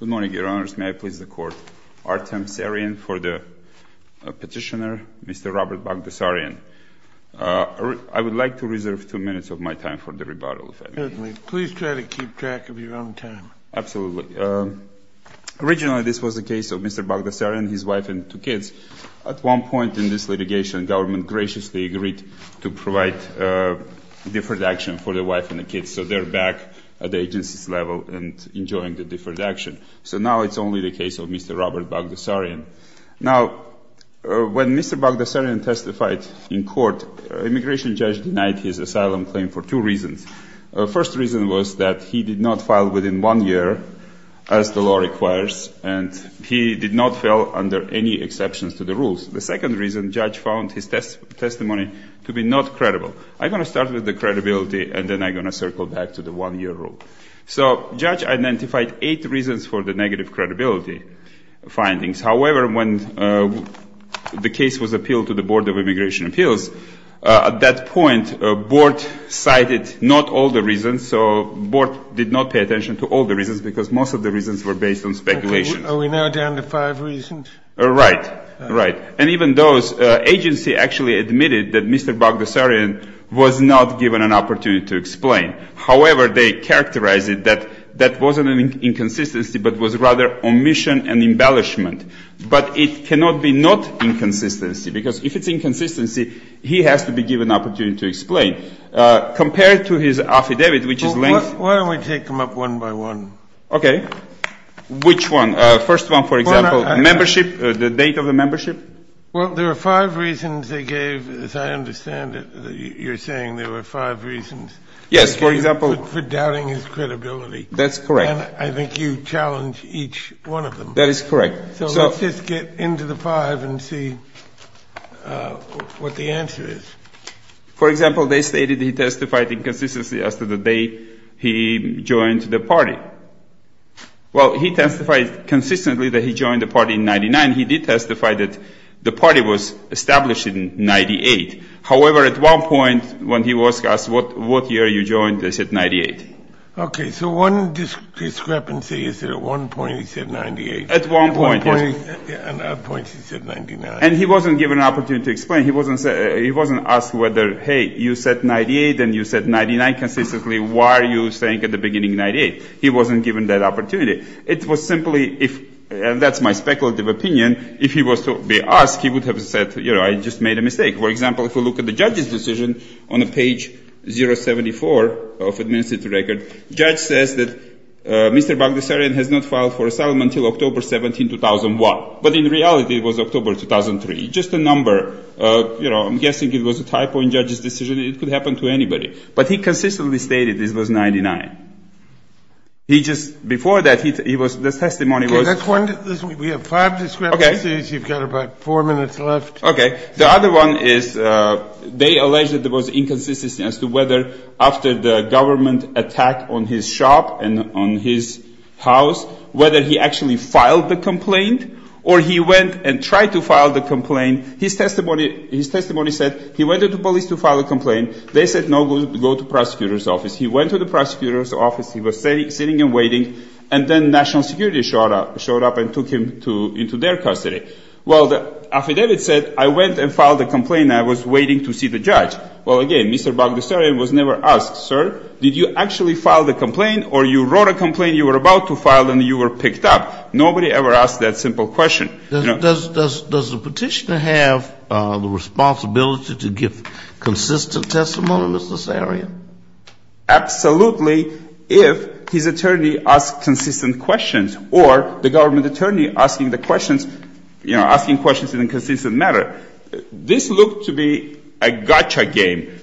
Good morning, Your Honors. May I please the Court? Artem Sarin for the petitioner, Mr. Robert Baghdasaryan. I would like to reserve two minutes of my time for the rebuttal, if I may. Certainly. Please try to keep track of your own time. Absolutely. Originally, this was the case of Mr. Baghdasaryan, his wife and two kids. At one point in this litigation, the government graciously agreed to provide deferred action for the wife and the kids, so they're back at the agency's level and enjoying the deferred action. So now it's only the case of Mr. Robert Baghdasaryan. Now, when Mr. Baghdasaryan testified in court, an immigration judge denied his asylum claim for two reasons. The first reason was that he did not file within one year, as the law requires, and he did not fail under any exceptions to the rules. The second reason, the judge found his testimony to be not credible. I'm going to start with the credibility, and then I'm going to circle back to the one-year rule. So judge identified eight reasons for the negative credibility findings. However, when the case was appealed to the Board of Immigration Appeals, at that point, the board cited not all the reasons, so the board did not pay attention to all the reasons, because most of the reasons were based on speculation. Are we now down to five reasons? Right. Right. And even those, agency actually admitted that Mr. Baghdasaryan was not given an opportunity to explain. However, they characterized it that that wasn't an inconsistency, but was rather omission and embellishment. But it cannot be not inconsistency, because if it's inconsistency, he has to be given an opportunity to explain. Compared to his affidavit, which is lengthy. Why don't we take them up one by one? Okay. Which one? First one, for example. Membership, the date of the membership. Well, there are five reasons they gave, as I understand it. You're saying there were five reasons. Yes, for example. For doubting his credibility. That's correct. And I think you challenge each one of them. That is correct. So let's just get into the five and see what the answer is. For example, they stated he testified inconsistency as to the date he joined the party. Well, he testified consistently that he joined the party in 99. He did testify that the party was established in 98. However, at one point when he was asked what year you joined, they said 98. Okay. So one discrepancy is that at one point he said 98. At one point, yes. At one point he said 99. And he wasn't given an opportunity to explain. He wasn't asked whether, hey, you said 98 and you said 99 consistently. Why are you saying at the beginning 98? He wasn't given that opportunity. It was simply if, and that's my speculative opinion, if he was to be asked, he would have said, you know, I just made a mistake. For example, if we look at the judge's decision on page 074 of the administrative record, the judge says that Mr. Bagdasarian has not filed for asylum until October 17, 2001. But in reality, it was October 2003. Just a number. You know, I'm guessing it was a typo in the judge's decision. It could happen to anybody. But he consistently stated this was 99. He just, before that, he was, the testimony was. We have five discrepancies. You've got about four minutes left. Okay. The other one is they allege that there was inconsistency as to whether after the government attack on his shop and on his house, whether he actually filed the complaint or he went and tried to file the complaint. His testimony, his testimony said he went to the police to file a complaint. They said no, go to prosecutor's office. He went to the prosecutor's office. He was sitting and waiting. And then national security showed up and took him into their custody. Well, the affidavit said I went and filed a complaint and I was waiting to see the judge. Well, again, Mr. Bagdasarian was never asked, sir, did you actually file the complaint, or you wrote a complaint you were about to file and you were picked up? Nobody ever asked that simple question. Does the petitioner have the responsibility to give consistent testimony, Mr. Sarian? Absolutely, if his attorney asks consistent questions or the government attorney asking the questions, you know, asking questions in a consistent manner. This looked to be a gotcha game.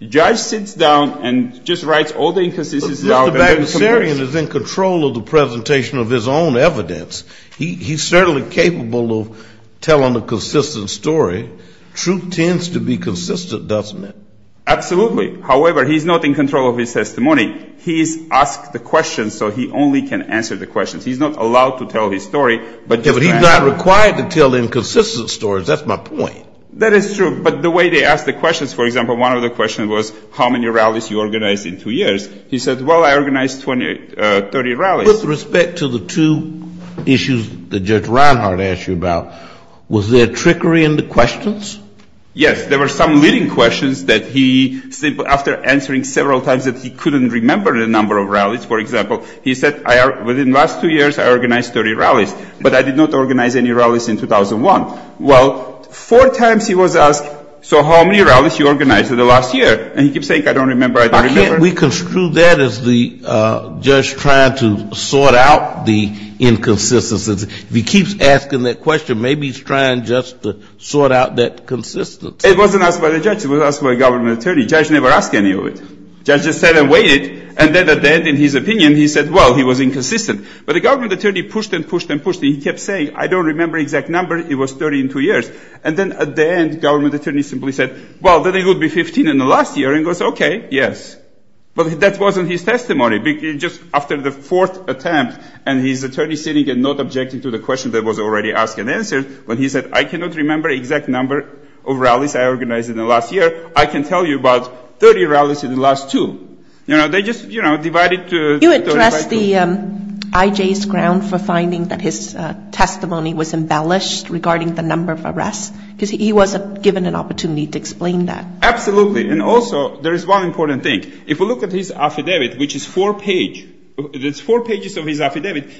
The judge sits down and just writes all the inconsistencies down. Mr. Bagdasarian is in control of the presentation of his own evidence. He's certainly capable of telling a consistent story. Truth tends to be consistent, doesn't it? Absolutely. However, he's not in control of his testimony. He's asked the questions so he only can answer the questions. He's not allowed to tell his story. But he's not required to tell inconsistent stories. That's my point. That is true. But the way they ask the questions, for example, one of the questions was how many rallies you organized in two years. He said, well, I organized 30 rallies. With respect to the two issues that Judge Reinhart asked you about, was there trickery in the questions? Yes. There were some leading questions that he said after answering several times that he couldn't remember the number of rallies. For example, he said within the last two years I organized 30 rallies, but I did not organize any rallies in 2001. Well, four times he was asked, so how many rallies you organized in the last year? We construed that as the judge trying to sort out the inconsistencies. If he keeps asking that question, maybe he's trying just to sort out that consistency. It wasn't asked by the judge. It was asked by a government attorney. The judge never asked any of it. The judge just sat and waited, and then at the end, in his opinion, he said, well, he was inconsistent. But the government attorney pushed and pushed and pushed, and he kept saying, I don't remember the exact number. It was 30 in two years. And then at the end, the government attorney simply said, well, then it would be 15 in the last year, and he goes, okay, yes. But that wasn't his testimony. Just after the fourth attempt, and his attorney sitting and not objecting to the question that was already asked and answered, when he said, I cannot remember the exact number of rallies I organized in the last year. I can tell you about 30 rallies in the last two. You know, they just, you know, divided to 35. And that's the IJ's ground for finding that his testimony was embellished regarding the number of arrests, because he wasn't given an opportunity to explain that. Absolutely. And also, there is one important thing. If we look at his affidavit, which is four page, there's four pages of his affidavit.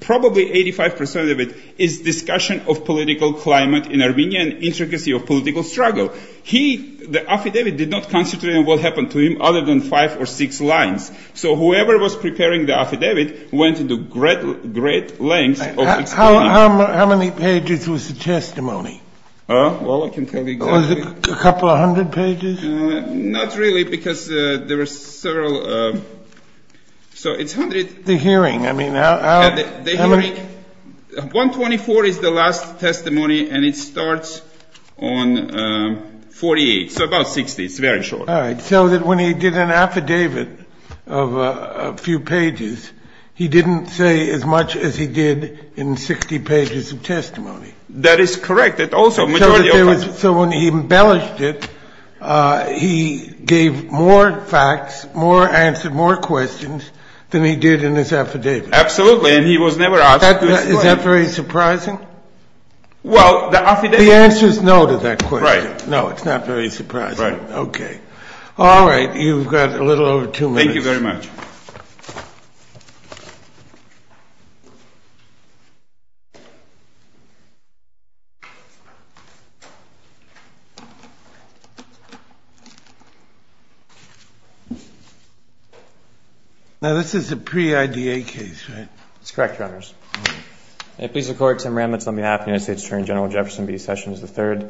Probably 85% of it is discussion of political climate in Armenia and intricacy of political struggle. He, the affidavit, did not concentrate on what happened to him other than five or six lines. So whoever was preparing the affidavit went into great lengths of explaining. How many pages was the testimony? Well, I can tell you exactly. Was it a couple of hundred pages? Not really, because there were several. So it's hundreds. The hearing. I mean, how many? The hearing. 124 is the last testimony, and it starts on 48. So about 60. It's very short. All right. So that when he did an affidavit of a few pages, he didn't say as much as he did in 60 pages of testimony. That is correct. So when he embellished it, he gave more facts, more answers, more questions than he did in his affidavit. Absolutely. And he was never asked to explain. Is that very surprising? Well, the affidavit. The answer is no to that question. Right. No, it's not very surprising. Right. Okay. All right. You've got a little over two minutes. Thank you very much. Now, this is a pre-IDA case, right? That's correct, Your Honors. May it please the Court, Tim Ramitz on behalf of the United States Attorney General Jefferson B. Sessions III. In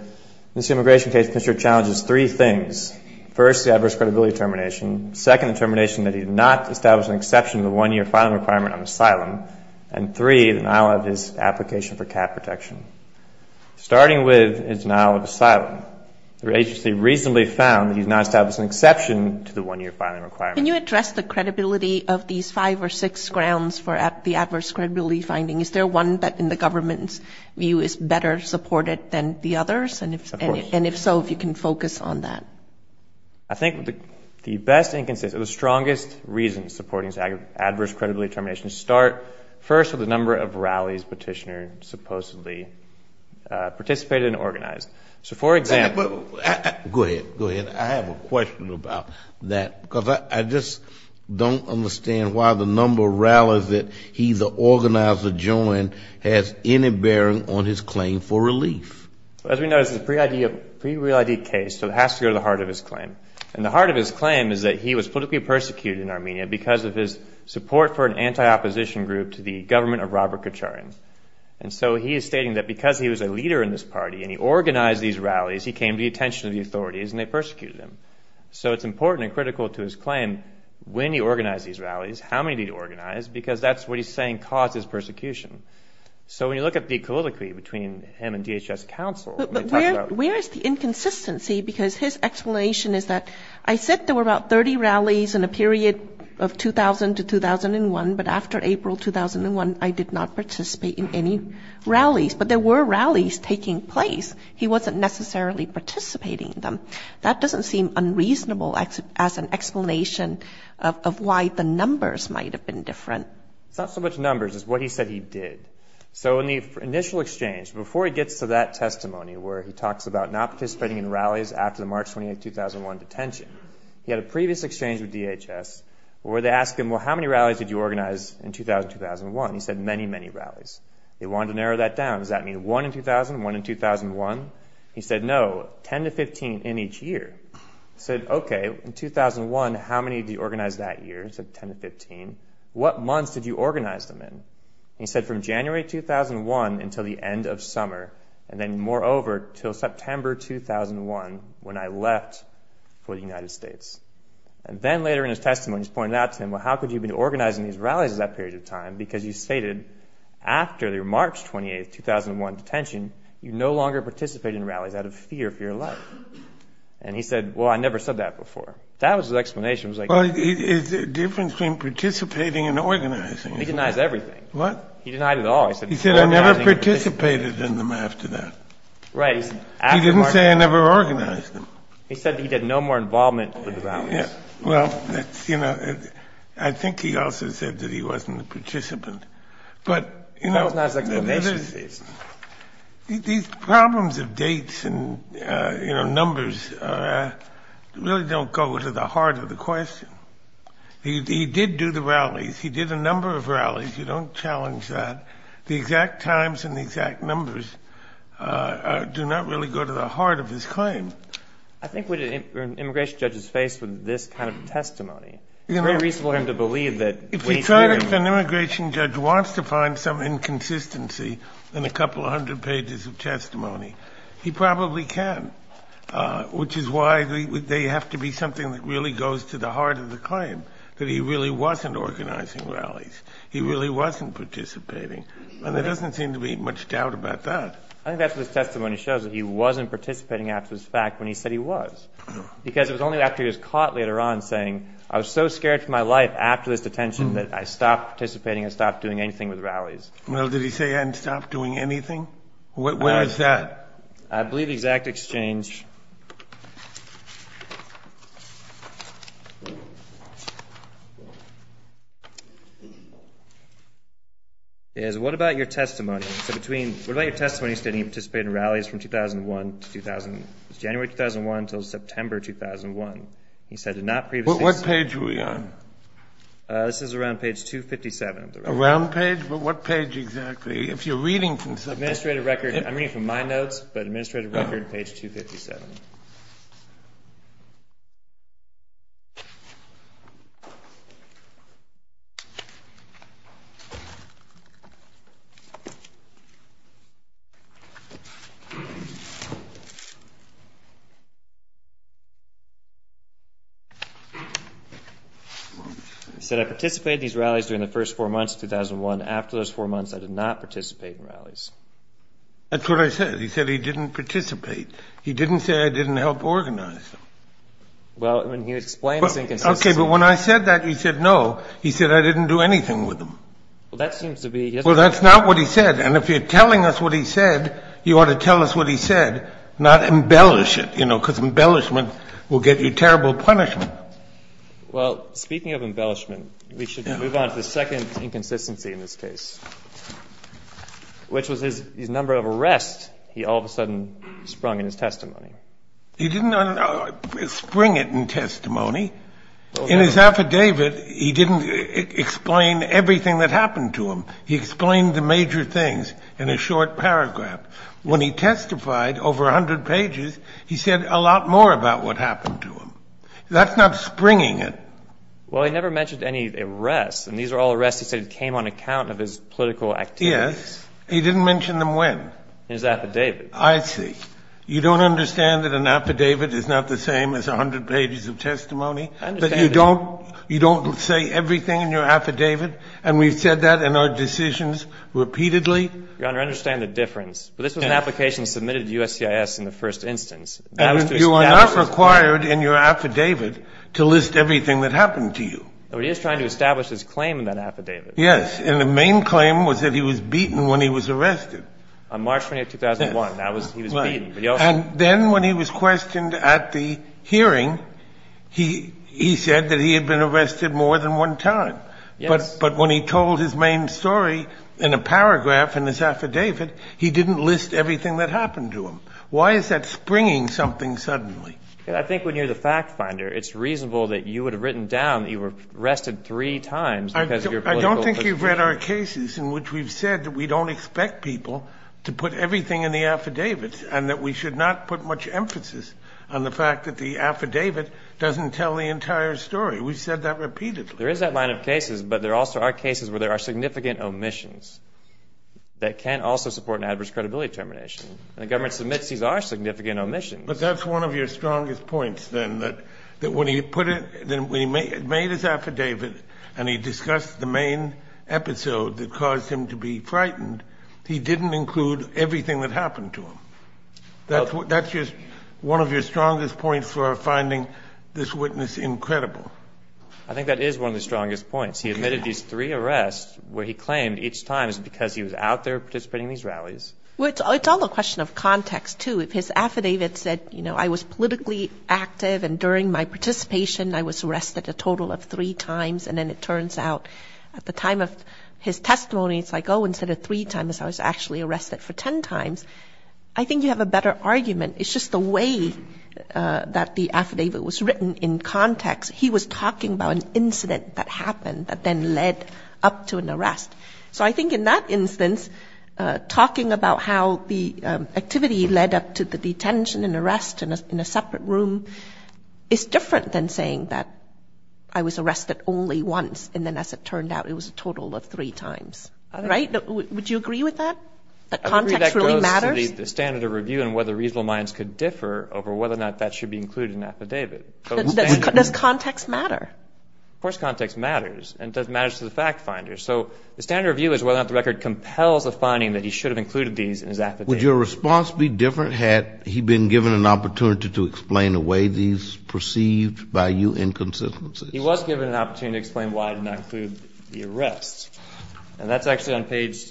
this immigration case, the Commissioner challenges three things. First, the adverse credibility termination. Second, the termination that he did not establish an exception to the one-year filing requirement on asylum. And three, the denial of his application for cap protection. Starting with his denial of asylum, the agency reasonably found that he did not establish an exception to the one-year filing requirement. Can you address the credibility of these five or six grounds for the adverse credibility finding? Is there one that, in the government's view, is better supported than the others? Of course. And if so, if you can focus on that. I think the best and the strongest reasons supporting adverse credibility termination start, first, with the number of rallies Petitioner supposedly participated in and organized. So, for example. Go ahead. Go ahead. I have a question about that, because I just don't understand why the number of rallies that he's organized adjoined has any bearing on his claim for relief. As we know, this is a pre-real ID case, so it has to go to the heart of his claim. And the heart of his claim is that he was politically persecuted in Armenia because of his support for an anti-opposition group to the government of Robert Kacharan. And so he is stating that because he was a leader in this party and he organized these rallies, he came to the attention of the authorities and they persecuted him. So it's important and critical to his claim when he organized these rallies, how many he organized, because that's what he's saying causes persecution. So when you look at the calligraphy between him and DHS counsel. Where is the inconsistency? Because his explanation is that, I said there were about 30 rallies in a period of 2000 to 2001, but after April 2001, I did not participate in any rallies. But there were rallies taking place. He wasn't necessarily participating in them. That doesn't seem unreasonable as an explanation of why the numbers might have been different. It's not so much numbers. It's what he said he did. So in the initial exchange, before he gets to that testimony where he talks about not participating in rallies after the March 28, 2001 detention, he had a previous exchange with DHS where they asked him, well, how many rallies did you organize in 2000, 2001? He said many, many rallies. They wanted to narrow that down. Does that mean one in 2000, one in 2001? He said no, 10 to 15 in each year. He said, okay, in 2001, how many did you organize that year? He said 10 to 15. What months did you organize them in? He said from January 2001 until the end of summer, and then moreover, until September 2001 when I left for the United States. And then later in his testimony, he's pointed out to him, because he stated after the March 28, 2001 detention, you no longer participate in rallies out of fear for your life. And he said, well, I never said that before. That was his explanation. Well, is there a difference between participating and organizing? He denies everything. What? He denied it all. He said I never participated in them after that. Right. He said he had no more involvement with the rallies. Well, that's, you know, I think he also said that he wasn't a participant. But, you know. That was not his explanation, please. These problems of dates and, you know, numbers really don't go to the heart of the question. He did do the rallies. He did a number of rallies. You don't challenge that. The exact times and the exact numbers do not really go to the heart of his claim. I think when an immigration judge is faced with this kind of testimony, it's very reasonable for him to believe that. If an immigration judge wants to find some inconsistency in a couple of hundred pages of testimony, he probably can, which is why they have to be something that really goes to the heart of the claim, that he really wasn't organizing rallies. He really wasn't participating. And there doesn't seem to be much doubt about that. I think that's what his testimony shows, that he wasn't participating after this fact when he said he was. Because it was only after he was caught later on saying, I was so scared for my life after this detention that I stopped participating and stopped doing anything with rallies. Well, did he say he hadn't stopped doing anything? Where is that? I believe the exact exchange is, what about your testimony? So between, what about your testimony stating he participated in rallies from 2001 to 2000, it was January 2001 until September 2001. He said did not previously. What page are we on? This is around page 257. Around page? What page exactly? If you're reading from something. Administrative record. I'm reading from my notes, but administrative record page 257. He said I participated in these rallies during the first four months of 2001. After those four months, I did not participate in rallies. That's what I said. He said he didn't participate. He didn't say I didn't help organize them. Well, I mean, he explains inconsistency. Okay, but when I said that, he said no. He said I didn't do anything with them. Well, that seems to be. Well, that's not what he said. And if you're telling us what he said, you ought to tell us what he said, not embellish it. You know, because embellishment will get you terrible punishment. Well, speaking of embellishment, we should move on to the second inconsistency in this case, which was his number of arrests. He all of a sudden sprung in his testimony. He didn't spring it in testimony. In his affidavit, he didn't explain everything that happened to him. He explained the major things in a short paragraph. When he testified over 100 pages, he said a lot more about what happened to him. That's not springing it. Well, he never mentioned any arrests, and these are all arrests he said came on account of his political activities. Yes. He didn't mention them when. In his affidavit. I see. You don't understand that an affidavit is not the same as 100 pages of testimony? I understand that. But you don't say everything in your affidavit? And we've said that in our decisions repeatedly? Your Honor, I understand the difference. But this was an application submitted to USCIS in the first instance. And you are not required in your affidavit to list everything that happened to you. But he is trying to establish his claim in that affidavit. Yes. And the main claim was that he was beaten when he was arrested. On March 20, 2001. Yes. He was beaten. And then when he was questioned at the hearing, he said that he had been arrested more than one time. Yes. But when he told his main story in a paragraph in his affidavit, he didn't list everything that happened to him. Why is that springing something suddenly? I think when you're the fact finder, it's reasonable that you would have written down that you were arrested three times. I don't think you've read our cases in which we've said that we don't expect people to put everything in the affidavit and that we should not put much emphasis on the fact that the affidavit doesn't tell the entire story. We've said that repeatedly. There is that line of cases, but there also are cases where there are significant omissions that can also support an adverse credibility determination. And the government submits these are significant omissions. But that's one of your strongest points, then, that when he made his affidavit and he discussed the main episode that caused him to be frightened, he didn't include everything that happened to him. That's just one of your strongest points for finding this witness incredible. I think that is one of the strongest points. He admitted these three arrests where he claimed each time is because he was out there participating in these rallies. Well, it's all a question of context, too. If his affidavit said, you know, I was politically active and during my participation I was arrested a total of three times and then it turns out at the time of his testimony it's like, oh, instead of three times I was actually arrested for 10 times, I think you have a better argument. It's just the way that the affidavit was written in context. He was talking about an incident that happened that then led up to an arrest. So I think in that instance talking about how the activity led up to the detention and arrest in a separate room is different than saying that I was arrested only once and then as it turned out it was a total of three times. Right? Would you agree with that, that context really matters? I agree that goes to the standard of review and whether reasonable minds could differ over whether or not that should be included in an affidavit. Does context matter? Of course context matters. And it does matter to the fact finder. So the standard of review is whether or not the record compels a finding that he should have included these in his affidavit. Would your response be different had he been given an opportunity to explain away these perceived by you inconsistencies? He was given an opportunity to explain why it did not include the arrest. And that's actually on page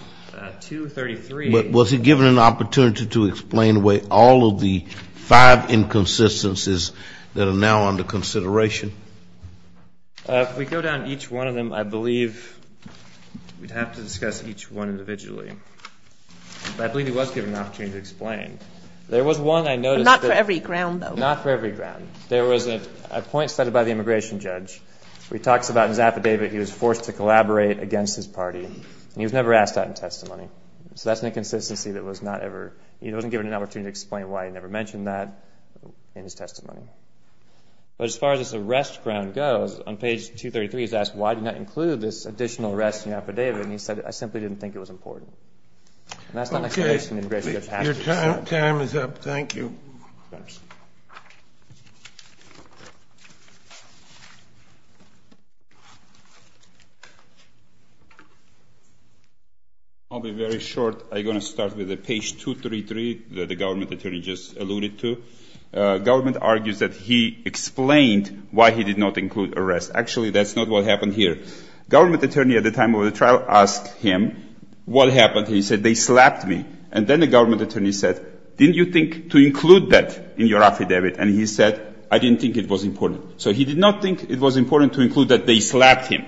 233. But was he given an opportunity to explain away all of the five inconsistencies that are now under consideration? If we go down each one of them, I believe we'd have to discuss each one individually. But I believe he was given an opportunity to explain. There was one I noticed. Not for every ground though. Not for every ground. There was a point cited by the immigration judge where he talks about his affidavit. He was forced to collaborate against his party. And he was never asked that in testimony. So that's an inconsistency that was not ever, he wasn't given an opportunity to explain why he never mentioned that in his testimony. But as far as this arrest ground goes, on page 233 he's asked, why did you not include this additional arrest in your affidavit? And he said, I simply didn't think it was important. And that's not an explanation that the immigration judge has. Your time is up. Thank you. I'll be very short. I'm going to start with page 233 that the government attorney just alluded to. Government argues that he explained why he did not include arrest. Actually, that's not what happened here. Government attorney at the time of the trial asked him what happened. He said, they slapped me. And then the government attorney said, didn't you think to include that in your affidavit? And he said, I didn't think it was important. So he did not think it was important to include that they slapped him.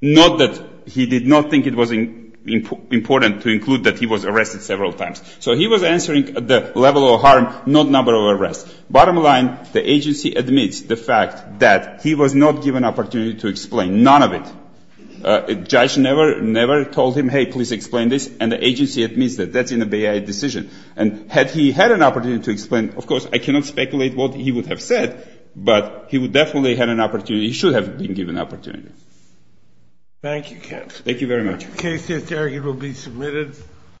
Not that he did not think it was important to include that he was arrested several times. So he was answering the level of harm, not number of arrests. Bottom line, the agency admits the fact that he was not given an opportunity to explain none of it. The judge never told him, hey, please explain this. And the agency admits that that's in the BIA decision. And had he had an opportunity to explain, of course, I cannot speculate what he would have said, but he would definitely have had an opportunity. He should have been given an opportunity. Thank you, Kev. Thank you very much. The case is arguably submitted.